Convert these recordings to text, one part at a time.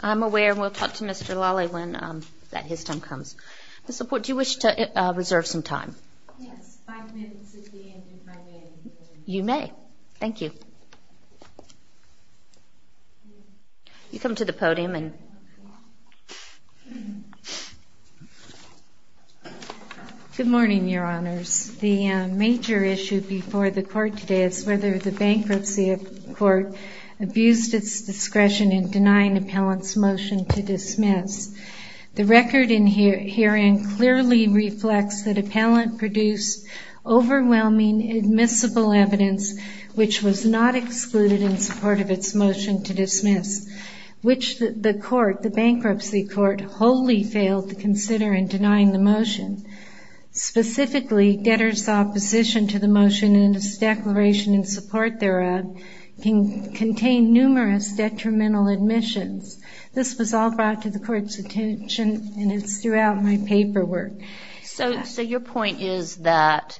I'm aware and we'll talk to Mr. Lally when that his time comes the support you wish to reserve some time you may thank you you come to the podium and good morning your honors the major issue before the court today is whether the bankruptcy of court abused its discretion in denying appellants motion to dismiss the record in here hearing clearly reflects that appellant produced overwhelming admissible evidence which was not excluded in support of its motion to dismiss which the court the bankruptcy court wholly failed to consider in denying the motion specifically debtors opposition to the motion in this declaration in support thereof can contain numerous detrimental admissions this was all brought to the court's attention and it's throughout my paperwork so so your point is that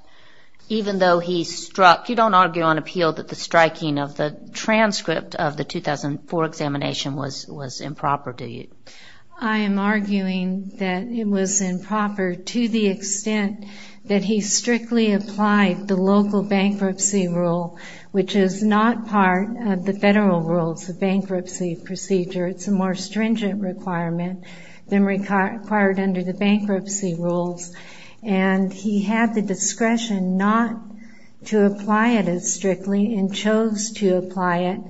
even though he struck you don't argue on appeal that the striking of the transcript of the 2004 examination was was improper do you I am arguing that it was improper to the extent that he strictly applied the local bankruptcy rule which is not part of the federal rules of bankruptcy procedure it's a more stringent requirement than required under the bankruptcy rules and he had the discretion not to apply it as strictly and chose to apply it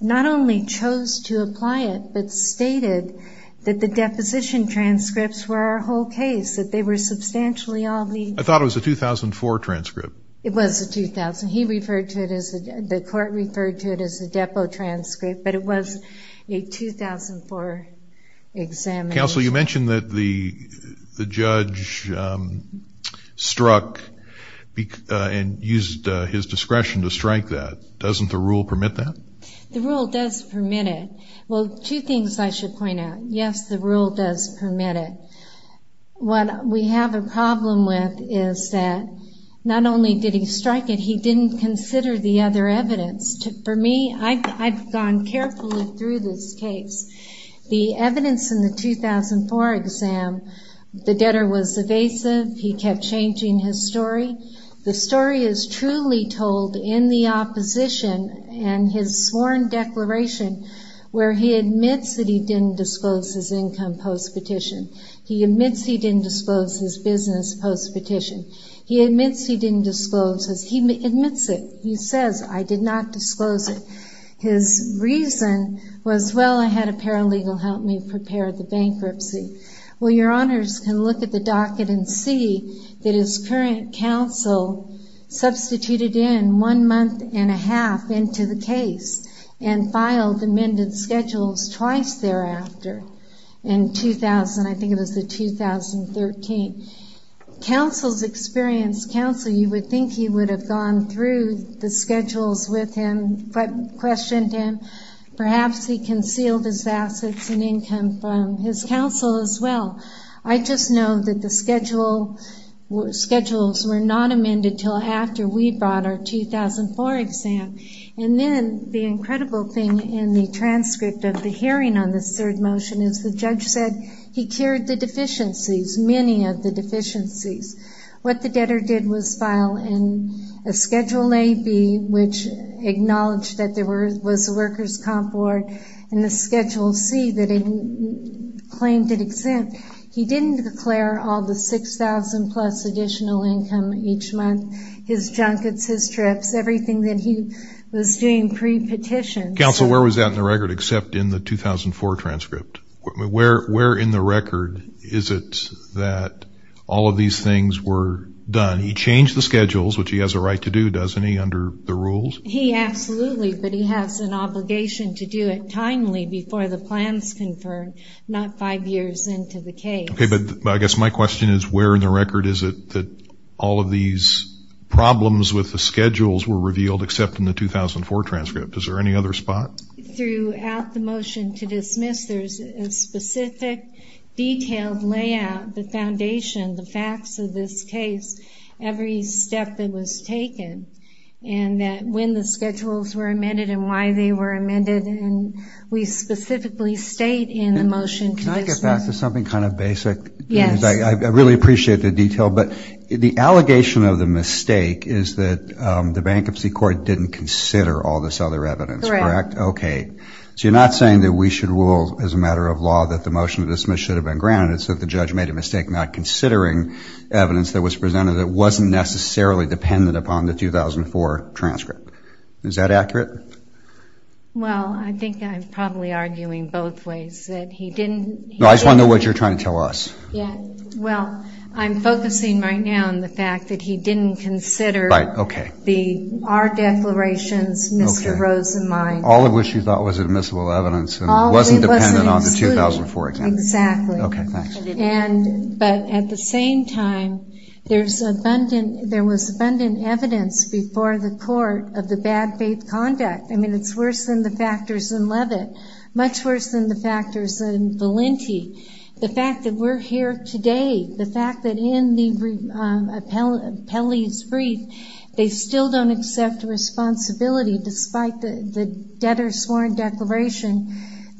not only chose to apply it but stated that the deposition transcripts were our whole case that they were substantially on me I thought it was a 2004 transcript it was a 2000 he referred to it as the court referred to it as a depo transcript but it was a 2004 exam counsel you mentioned that the the judge struck and used his discretion to strike that doesn't the rule permit that the rule does permit it well two things I should point out yes the rule does permit it what we have a problem with is that not only did he strike it he didn't consider the other evidence for me I've gone carefully through this case the debtor was evasive he kept changing his story the story is truly told in the opposition and his sworn declaration where he admits that he didn't disclose his income post petition he admits he didn't disclose his business post petition he admits he didn't disclose as he admits it he says I did not disclose it his reason was well I had a paralegal help me prepare the bankruptcy well your can look at the docket and see that his current counsel substituted in one month and a half into the case and filed amended schedules twice thereafter in 2000 I think it was the 2013 counsel's experience counsel you would think he would have gone through the schedules with him but questioned him perhaps he I just know that the schedule schedules were not amended till after we brought our 2004 exam and then the incredible thing in the transcript of the hearing on this third motion is the judge said he cured the deficiencies many of the deficiencies what the debtor did was file in a schedule a B which acknowledged that there were was a workers comp board and the schedule C that he claimed it he didn't declare all the six thousand plus additional income each month his junkets his trips everything that he was doing pre-petition council where was that in the record except in the 2004 transcript where where in the record is it that all of these things were done he changed the schedules which he has a right to do doesn't he under the rules he absolutely but he has an obligation to do it timely before the plans confirmed not five years into the case okay but I guess my question is where in the record is it that all of these problems with the schedules were revealed except in the 2004 transcript is there any other spot throughout the motion to dismiss there's a specific detailed layout the foundation the facts of this case every step that was taken and that when the schedules were amended and why they were amended and we specifically state in the motion to get back to something kind of basic yeah I really appreciate the detail but the allegation of the mistake is that the bankruptcy court didn't consider all this other evidence correct okay so you're not saying that we should rule as a matter of law that the motion to dismiss should have been granted so if the judge made a mistake not considering evidence that was presented it wasn't necessarily dependent upon the 2004 transcript is that accurate well I think I'm probably arguing both ways that he didn't know I just want to know what you're trying to tell us yeah well I'm focusing right now on the fact that he didn't consider right okay the our declarations mr. Rosa mine all of which you thought was admissible evidence and wasn't dependent on the 2004 exactly okay and but at the same time there's abundant there was abundant evidence before the court of the bad faith conduct I mean it's worse than the factors in Leavitt much worse than the factors in Valenti the fact that we're here today the fact that in the appellees brief they still don't accept responsibility despite the debtor declaration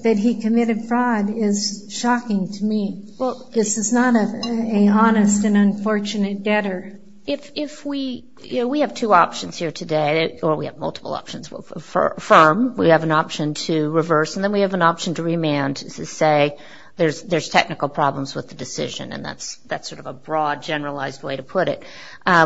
that he committed fraud is shocking to me well this is not a honest and unfortunate debtor if we you know we have two options here today or we have multiple options for firm we have an option to reverse and then we have an option to remand to say there's there's technical problems with the decision and that's that's sort of a broad generalized way to put it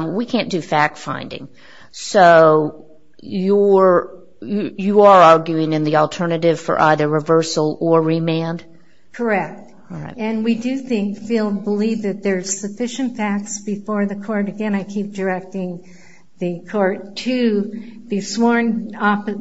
we can't do fact-finding so you're you are arguing in the alternative for either reversal or remand correct and we do think field believe that there's sufficient facts before the court again I keep directing the court to the sworn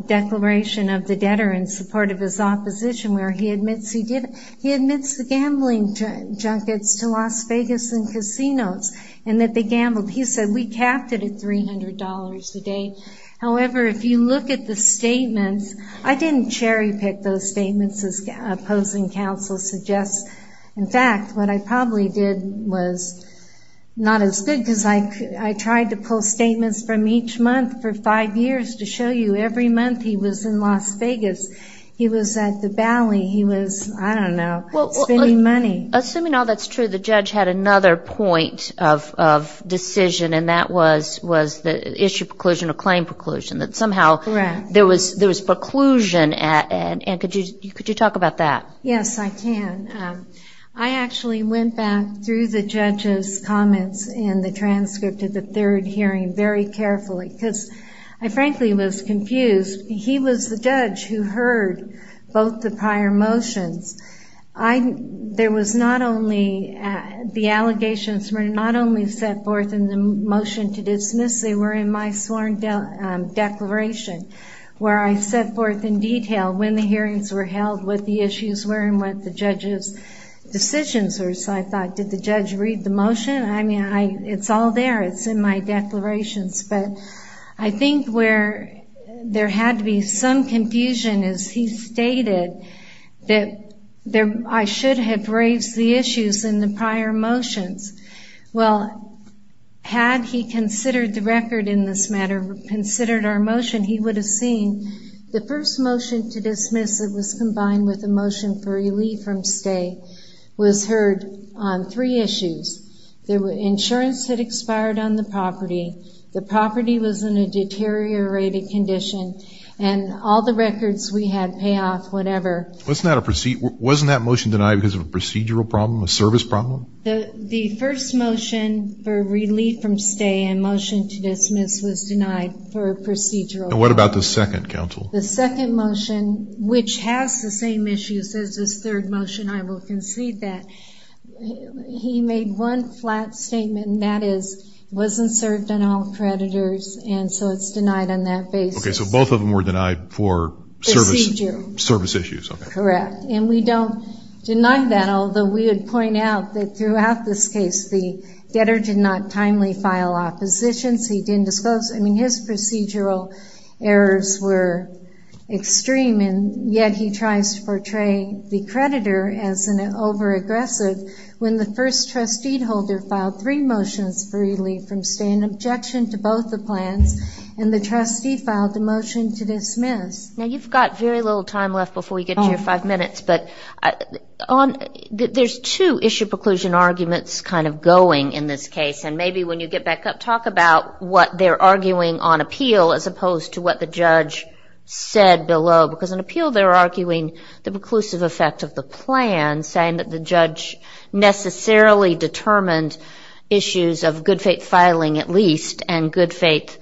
declaration of the debtor in support of his opposition where he admits he did he admits the gambling junkets to Las Vegas and casinos and that they gambled he said we capped it at three hundred dollars a day however if you look at the statements I didn't cherry-pick those statements as opposing counsel suggests in fact what I probably did was not as good because I I tried to pull statements from each month for five years to show you every month he was in Las Vegas he was at the bally he was I don't know spending money assuming all that's true the judge had another point of decision and that was was the issue preclusion or claim preclusion that somehow there was there was preclusion at and could you could you talk about that yes I can I actually went back through the judges comments in the transcript of the third hearing very carefully because I frankly was confused he was the judge who heard both the the allegations were not only set forth in the motion to dismiss they were in my sworn declaration where I set forth in detail when the hearings were held with the issues were and what the judges decisions or so I thought did the judge read the motion I mean I it's all there it's in my declarations but I think where there had to be some confusion as he stated that there I should have raised the issues in the prior motions well had he considered the record in this matter considered our motion he would have seen the first motion to dismiss it was combined with a motion for relief from stay was heard on three issues there were insurance had expired on the property the property was in a deteriorated condition and all the records we had pay off whatever what's that a proceed wasn't that motion denied because of a procedural problem a service problem the the first motion for relief from stay and motion to dismiss was denied for a procedural what about the second counsel the second motion which has the same issues as this third motion I will concede that he made one flat statement and that is wasn't served on all creditors and so it's denied on both of them were denied for service service issues correct and we don't deny that although we would point out that throughout this case the debtor did not timely file oppositions he didn't disclose I mean his procedural errors were extreme and yet he tries to portray the creditor as an over-aggressive when the first trustee holder filed three motions for relief from stay an objection to both the plans and the trustee filed a motion to dismiss now you've got very little time left before we get your five minutes but on there's two issue preclusion arguments kind of going in this case and maybe when you get back up talk about what they're arguing on appeal as opposed to what the judge said below because an appeal they're arguing the preclusive effect of the plan saying that the judge necessarily determined issues of good faith filing at least and good faith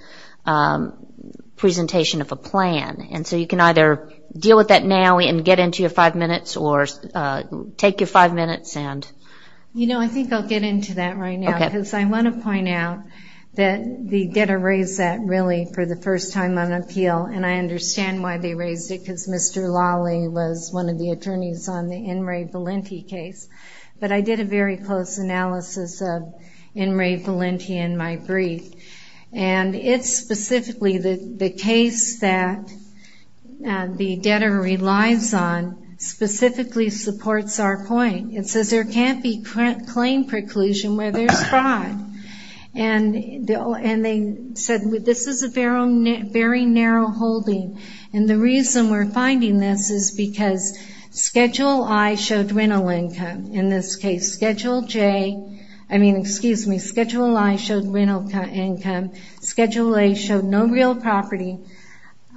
presentation of a plan and so you can either deal with that now and get into your five minutes or take your five minutes and you know I think I'll get into that right now because I want to point out that the debtor raised that really for the first time on appeal and I understand why they raised it because Mr. Lawley was one of the attorneys on the In re Valenti case but I did a very close analysis of In re Valenti in my brief and it's specifically the case that the debtor relies on specifically supports our point it says there can't be current claim preclusion where there's fraud and they said this is a very narrow holding and the Schedule I showed rental income in this case Schedule J I mean excuse me Schedule I showed rental income Schedule A showed no real property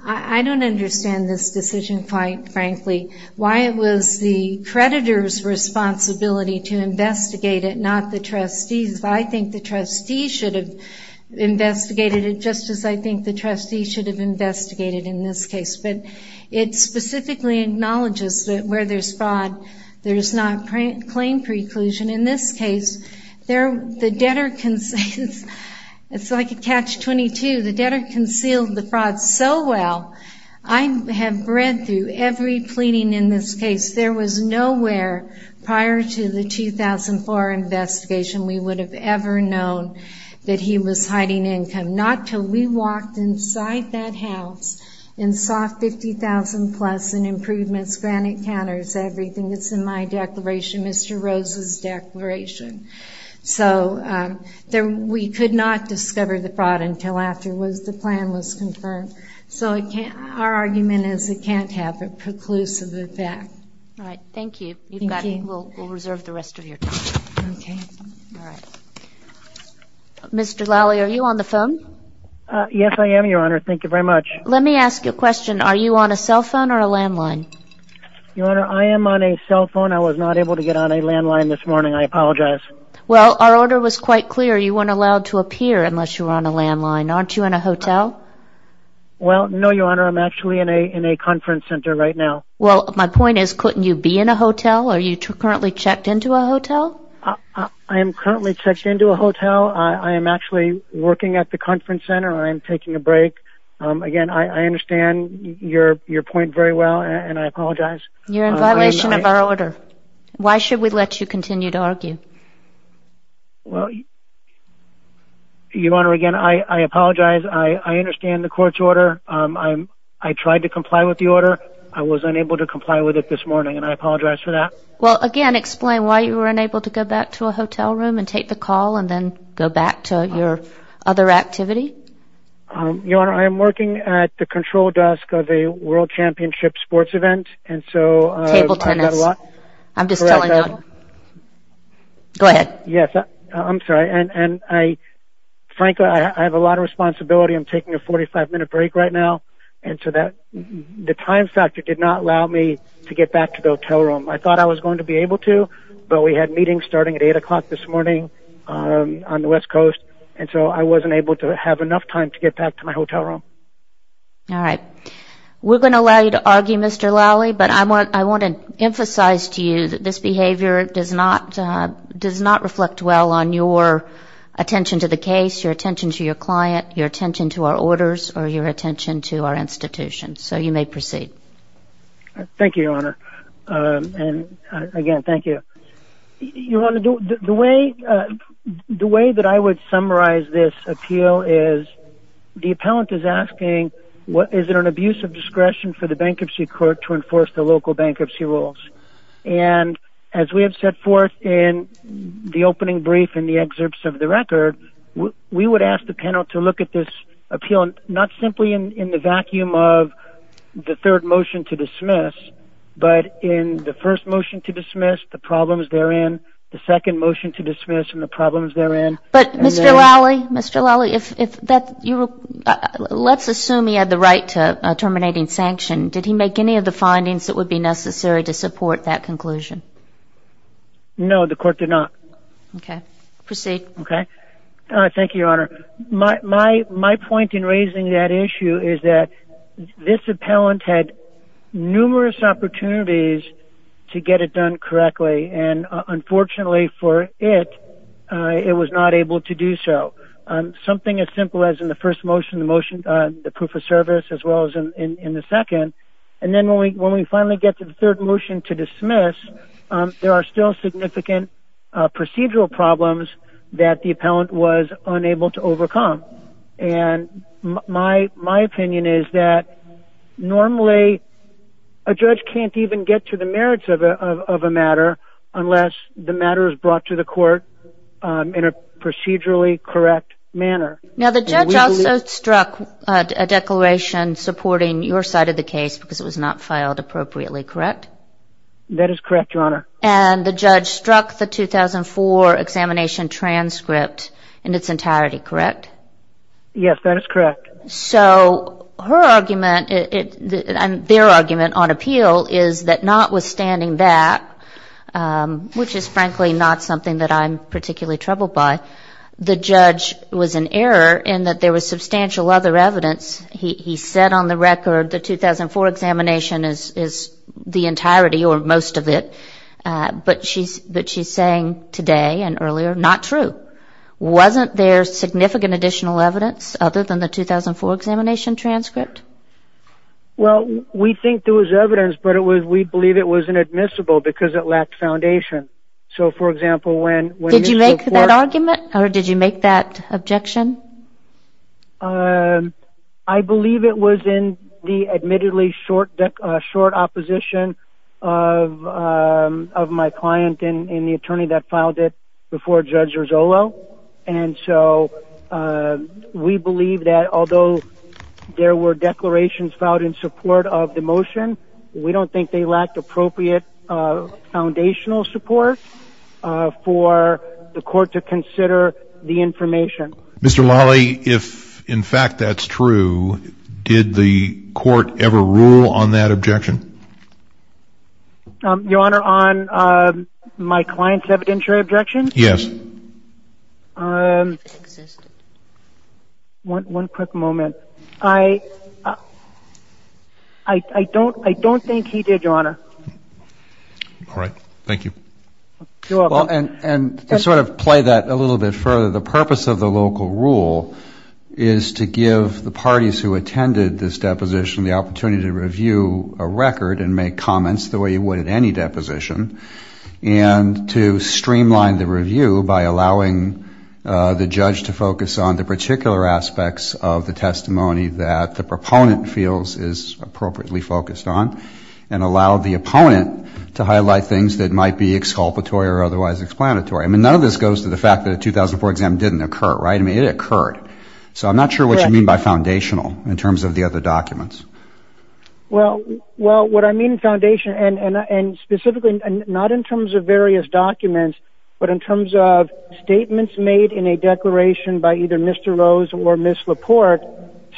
I don't understand this decision quite frankly why it was the creditors responsibility to investigate it not the trustees I think the trustees should have investigated it just as I think the trustees should have investigated in this case but it specifically acknowledges that where there's fraud there's not claim preclusion in this case there the debtor can say it's like a catch-22 the debtor concealed the fraud so well I have read through every pleading in this case there was nowhere prior to the 2004 investigation we would have ever known that he was hiding income not till we walked inside that house in soft 50,000 plus and improvements granite counters everything that's in my declaration mr. Rose's declaration so there we could not discover the fraud until after was the plan was confirmed so I can't our argument is it can't have a preclusive effect all right thank you we'll reserve the rest of your time okay all right mr. Lally are you on the phone yes I am your honor thank you very much let me ask you a question are you on a cell phone or a landline your honor I am on a cell phone I was not able to get on a landline this morning I apologize well our order was quite clear you weren't allowed to appear unless you're on a landline aren't you in a hotel well no your honor I'm actually in a in a conference center right now well my point is couldn't you be in a hotel are you currently checked into a hotel I am currently checked into a hotel I am actually working at the conference center I'm taking a break again I understand your your point very well and I apologize you're in violation of our order why should we let you continue to argue well you honor again I apologize I understand the court's order I'm I tried to comply with the order I was unable to comply with it this morning and I apologize for that well again explain why you were unable to go back to a hotel room and take the call and then go back to your other activity your honor I am working at the control desk of a world championship sports event and so I'm just glad yes I'm sorry and I frankly I have a lot of responsibility I'm taking a 45-minute break right now and so that the time factor did not allow me to get back to the hotel room I thought I was going to be able to but we had meetings starting at 8 o'clock this morning on the west coast and so I wasn't able to have enough time to get back to my hotel room all right we're going to allow you to argue mr. Lally but I want I want to emphasize to you that this behavior it does not does not reflect well on your attention to the case your attention to your client your attention to our orders or your attention to our institution so you may proceed thank you your honor and again thank you you want to do the way the way that I would summarize this appeal is the appellant is asking what is it an abuse of discretion for the bankruptcy court to enforce the local bankruptcy rules and as we have set forth in the opening brief in the excerpts of the record we would ask the panel to look at this appeal not simply in the vacuum of the third motion to dismiss but in the first motion to dismiss the problems therein the second motion to dismiss and the problems therein but mr. Lally mr. Lally if that you let's assume he had the right to terminating sanction did he make any of the findings that would be necessary to support that conclusion no the court did not okay proceed okay thank you your issue is that this appellant had numerous opportunities to get it done correctly and unfortunately for it it was not able to do so something as simple as in the first motion the motion the proof of service as well as in the second and then when we when we finally get to the third motion to dismiss there are still significant procedural problems that the appellant was unable to overcome and my my opinion is that normally a judge can't even get to the merits of a matter unless the matter is brought to the court in a procedurally correct manner now the judge also struck a declaration supporting your side of the case because it was not filed appropriately correct that is correct your honor and the judge struck the 2004 examination transcript in its entirety correct yes that is correct so her argument it and their argument on appeal is that notwithstanding that which is frankly not something that I'm particularly troubled by the judge was an error in that there was substantial other evidence he said on the record the 2004 examination is is the entirety or most of it but she's but she's saying today and earlier not true wasn't there significant additional evidence other than the 2004 examination transcript well we think there was evidence but it was we believe it was inadmissible because it lacked foundation so for example when when did you make that argument or did you make that objection I believe it was in the admittedly short deck short opposition of my client in the attorney that filed it before judge and so we believe that although there were declarations filed in support of the motion we don't think they lacked appropriate foundational support for the court to consider the information mr. Lally if in fact that's true did the court ever rule on that objection your honor on my clients evidentiary objection yes one quick moment I I don't I don't think he did your honor all right thank you and sort of play that a little bit further the purpose of the local rule is to give the parties who attended this deposition the opportunity to review a record and make comments the way you would at any deposition and to streamline the review by allowing the judge to focus on the particular aspects of the testimony that the proponent feels is appropriately focused on and allow the opponent to highlight things that might be exculpatory or otherwise explanatory I mean none of this goes to the fact that a 2004 exam didn't occur right I mean it occurred so I'm not sure what you mean by foundational in terms of the other documents well well what I mean foundation and and specifically not in terms of various documents but in terms of statements made in a declaration by either mr. Rose or miss Laporte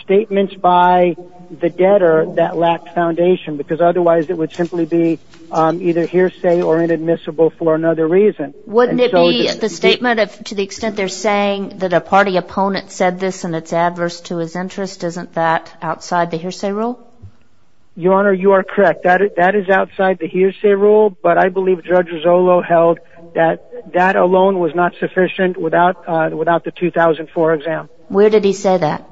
statements by the debtor that lacked foundation because otherwise it would simply be either hearsay or inadmissible for another reason wouldn't it be the statement of to the extent they're saying that a party opponent said this and it's adverse to his interest isn't that outside the hearsay rule your honor you are correct that it that is outside the hearsay rule but I believe judge Rizzolo held that that alone was not sufficient without without the 2004 exam where did he say that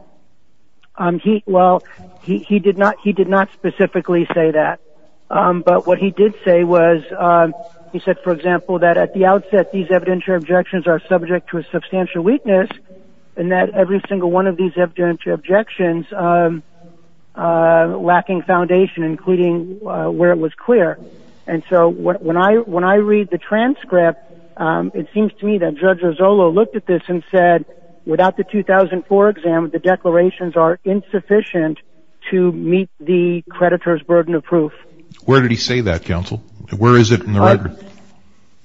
um he well he did not he did not specifically say that but what he did say was he said for example that at the outset these evidentiary objections are subject to a substantial weakness and that every single one of these evidentiary objections lacking foundation including where it was clear and so what when I when I read the transcript it seems to me that judge Rizzolo looked at this and said without the 2004 exam the declarations are insufficient to meet the creditors burden of proof where did he say that counsel where is it in the record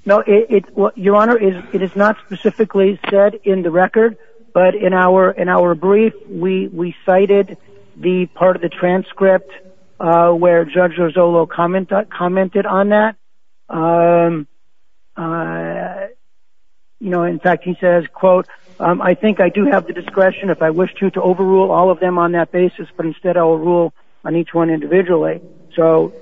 no it what your honor is it is not specifically said in the record but in our in our brief we we cited the part of the transcript where judge Rizzolo comment commented on that you know in fact he says quote I think I do have the discretion if I wish to to overrule all of them on that basis but instead I will rule on each one individually so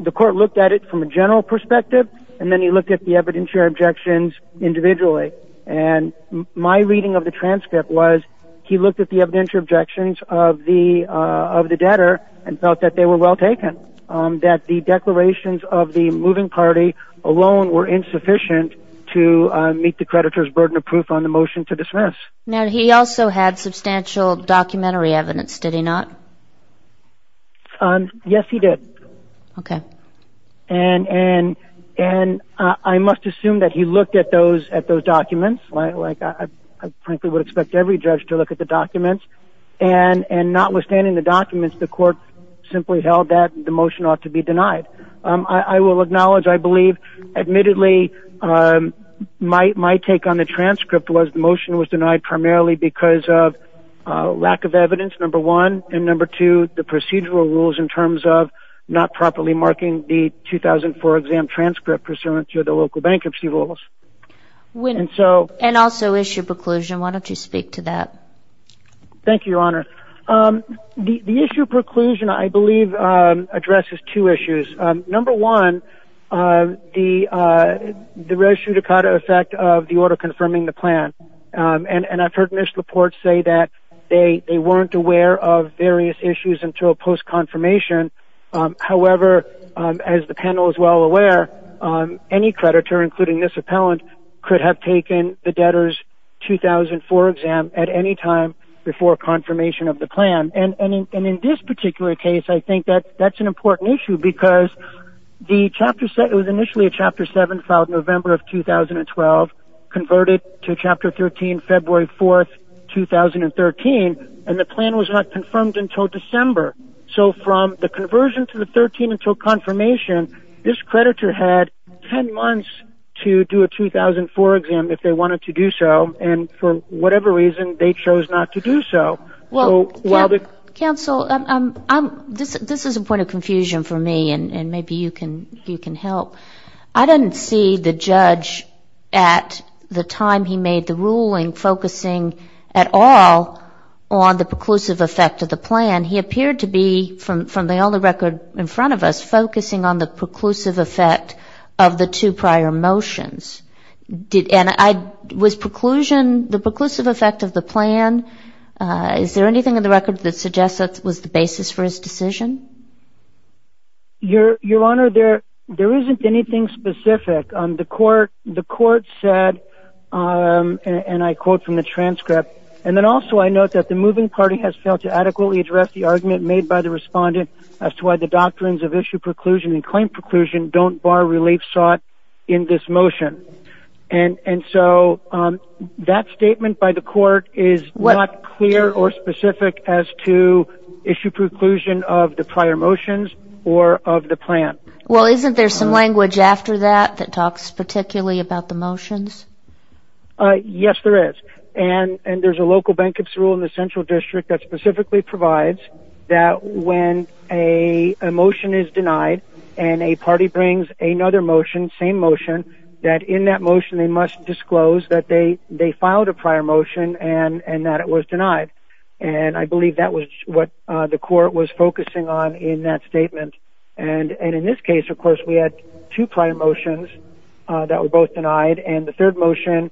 the court looked at it from a general perspective and then he looked at the objections individually and my reading of the transcript was he looked at the evidentiary objections of the of the debtor and felt that they were well taken that the declarations of the moving party alone were insufficient to meet the creditors burden of proof on the motion to dismiss now he also had substantial documentary evidence did he not yes he did okay and and and I must assume that he looked at those at those documents like I frankly would expect every judge to look at the documents and and notwithstanding the documents the court simply held that the motion ought to be denied I will acknowledge I believe admittedly my take on the transcript was the motion was denied primarily because of lack of evidence number one and number two the procedural rules in terms of not properly marking the 2004 exam transcript pursuant to the local bankruptcy rules when and so and also issue preclusion why don't you speak to that thank you your honor the issue preclusion I believe addresses two issues number one the the res judicata effect of the order confirming the plan and and I've heard this report say that they they weren't aware of various issues until post-confirmation however as the panel is well aware any creditor including this appellant could have taken the debtors 2004 exam at any time before confirmation of the plan and and in this particular case I think that that's an important issue because the chapter said it was initially a chapter 7 filed November of 2012 converted to chapter 13 February 4th 2013 and the plan was not confirmed until December so from the conversion to the 13 until confirmation this creditor had 10 months to do a 2004 exam if they wanted to do so and for whatever reason they chose not to do so well while the counsel this is a point of confusion for me and maybe you can you can help I didn't see the judge at the time he made the ruling focusing at all on the preclusive effect of the plan he appeared to be from from the only record in front of us focusing on the preclusive effect of the two prior motions did and I was preclusion the preclusive effect of the plan is there anything in the record that suggests that was the basis for his decision your your honor there there isn't anything specific on the court the court said and I quote from the transcript and then also I note that the moving party has failed to adequately address the argument made by the respondent as to why the doctrines of issue preclusion and claim preclusion don't bar relief sought in this motion and and so that statement by the court is what clear or specific as to issue preclusion of the prior motions or of the plan well isn't there some language after that that talks particularly about the motions yes there is and and there's a local bankruptcy rule in the central district that specifically provides that when a motion is denied and a party brings another motion same motion that in that motion they must disclose that they they filed a prior motion and and that it was denied and I believe that was what the court was focusing on in that statement and and in this case of course we had two prior motions that were both denied and the third motion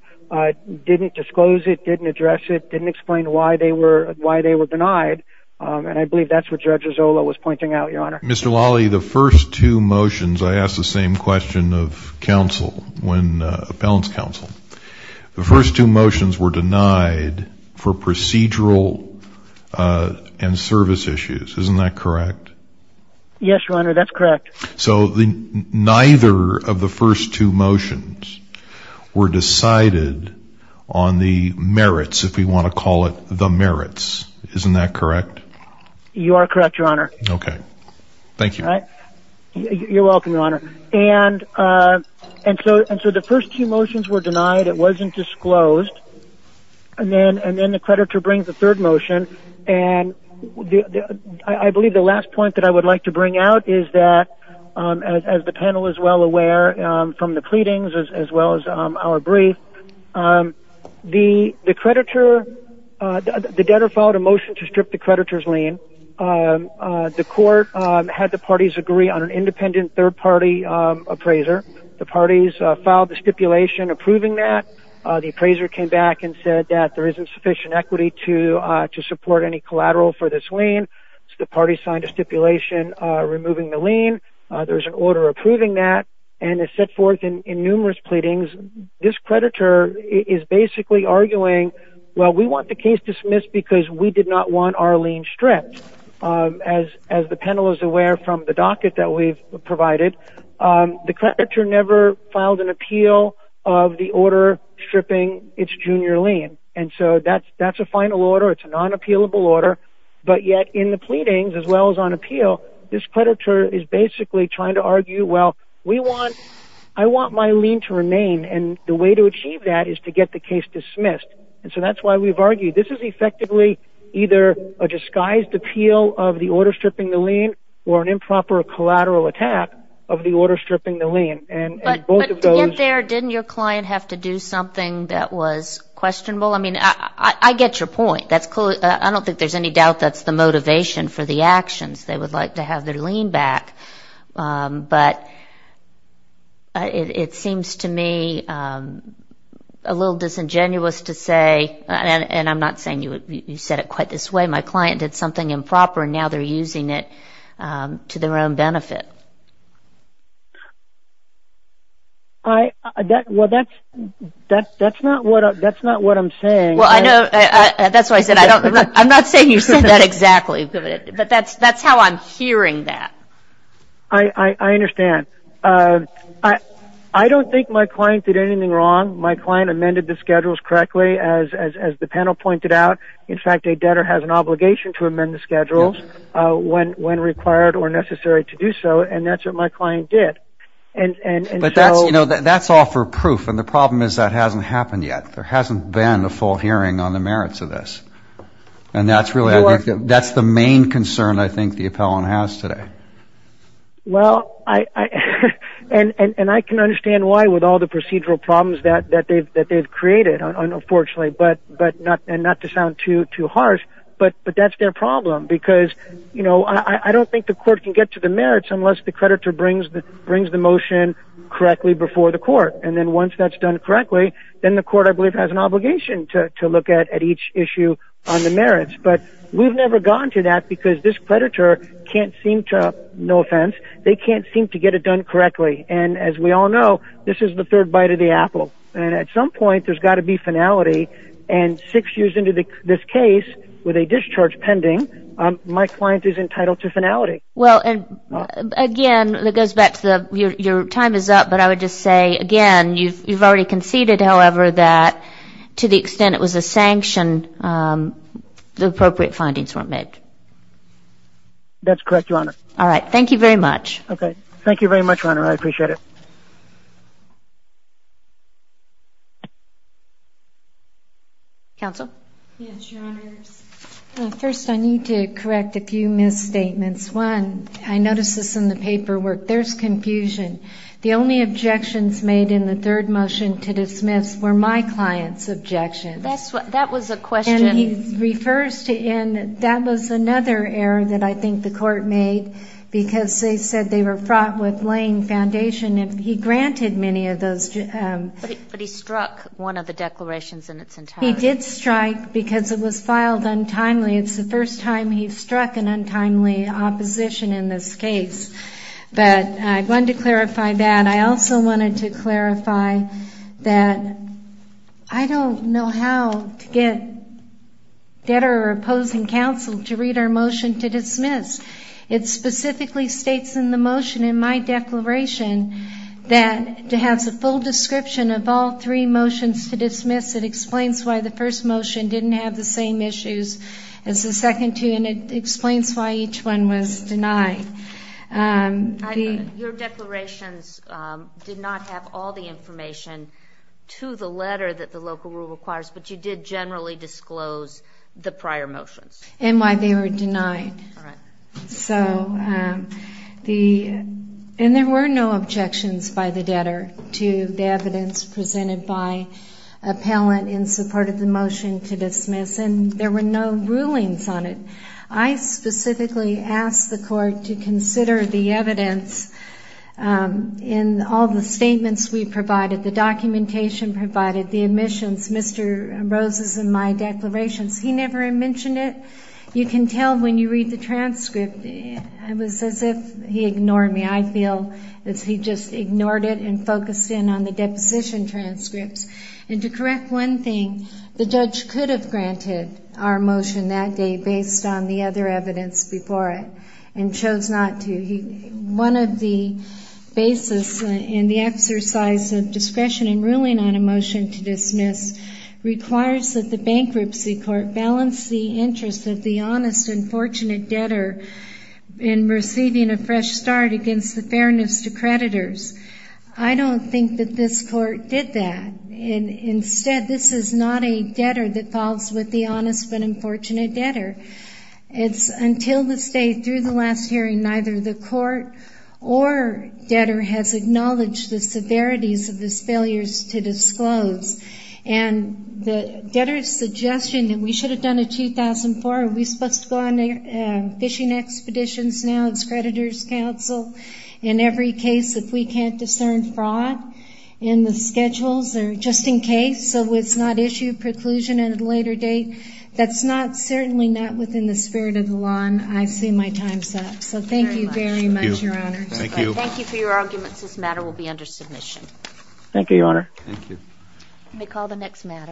didn't disclose it didn't address it didn't explain why they were why they were denied and I believe that's what judges Ola was pointing out your honor mr. Lolly the first two motions I asked the same question of counsel when appellants counsel the first two motions were denied for procedural and service issues isn't that correct yes your honor that's correct so the neither of the first two were decided on the merits if we want to call it the merits isn't that correct you are correct your honor okay thank you all right you're welcome your honor and and so and so the first two motions were denied it wasn't disclosed and then and then the creditor brings the third motion and I believe the last point that I would like to bring out is that as the panel is well aware from the proceedings as well as our brief the the creditor the debtor followed a motion to strip the creditors lien the court had the parties agree on an independent third-party appraiser the parties filed the stipulation approving that the appraiser came back and said that there isn't sufficient equity to to support any collateral for this lien the party signed a stipulation removing the lien there's an order approving that and it's set forth in numerous pleadings this creditor is basically arguing well we want the case dismissed because we did not want our lien stripped as as the panel is aware from the docket that we've provided the creditor never filed an appeal of the order stripping its junior lien and so that's that's a final order it's a non-appealable order but yet in the pleadings as well as on appeal this creditor is basically trying to argue well we want I want my lien to remain and the way to achieve that is to get the case dismissed and so that's why we've argued this is effectively either a disguised appeal of the order stripping the lien or an improper collateral attack of the order stripping the lien and both of those there didn't your client have to do something that was questionable I mean I get your point that's cool I don't think there's any doubt that's the motivation for the actions they would like to have their lien back but it seems to me a little disingenuous to say and I'm not saying you said it quite this way my client did something improper now they're using it to their own benefit I that well that's that that's not what that's not what I'm saying well I know that's why I said I don't I'm not saying you said that but that's that's how I'm hearing that I I understand I I don't think my client did anything wrong my client amended the schedules correctly as as the panel pointed out in fact a debtor has an obligation to amend the schedules when when required or necessary to do so and that's what my client did and and but that's you know that that's all for proof and the problem is that hasn't happened yet there hasn't been a full hearing on the merits of this and that's that's the main concern I think the appellant has today well I and and I can understand why with all the procedural problems that that they've that they've created unfortunately but but not and not to sound too too harsh but but that's their problem because you know I don't think the court can get to the merits unless the creditor brings the brings the motion correctly before the court and then once that's done correctly then the court I believe has an obligation to look at at each issue on the merits but we've never gone to that because this predator can't seem to no offense they can't seem to get it done correctly and as we all know this is the third bite of the apple and at some point there's got to be finality and six years into the this case with a discharge pending my client is entitled to finality well and again that goes back to the your time is up but I would just say again you've already conceded however that to the sanction the appropriate findings were met that's correct your honor all right thank you very much okay thank you very much runner I appreciate it counsel first I need to correct a few misstatements one I noticed this in the paperwork there's confusion the only objections made in the third motion to that's what that was a question he refers to in that was another error that I think the court made because they said they were fraught with laying foundation if he granted many of those but he struck one of the declarations and it's in time he did strike because it was filed untimely it's the first time he struck an untimely opposition in this case but I wanted to clarify that I also wanted to clarify that I don't know how to get debtor opposing counsel to read our motion to dismiss it specifically states in the motion in my declaration that to have the full description of all three motions to dismiss it explains why the first motion didn't have the same issues as the second two and it did not have all the information to the letter that the local rule requires but you did generally disclose the prior motions and why they were denied so the and there were no objections by the debtor to the evidence presented by a palin in support of the motion to dismiss and there were no rulings on it I specifically asked the court to consider the evidence in all the statements we provided the documentation provided the admissions Mr. Rose's in my declarations he never mentioned it you can tell when you read the transcript it was as if he ignored me I feel that he just ignored it and focused in on the deposition transcripts and to correct one thing the judge could have granted our motion that day based on the other evidence before it and chose not to he one of the basis in the exercise of discretion in ruling on a motion to dismiss requires that the bankruptcy court balance the interest of the honest and fortunate debtor in receiving a fresh start against the fairness to creditors I don't think that this court did that and instead this is not a debtor that falls with the honest but unfortunate debtor it's until the next day through the last hearing neither the court or debtor has acknowledged the severities of the failures to disclose and the debtor's suggestion that we should have done it 2004 we supposed to go on fishing expeditions now as creditors counsel in every case if we can't discern fraud in the schedules or just in case so it's not issue preclusion at a later date that's not certainly not within the spirit of the law and I see my time's up so thank you very much your honor thank you for your arguments this matter will be under submission thank you your honor let me call the next matter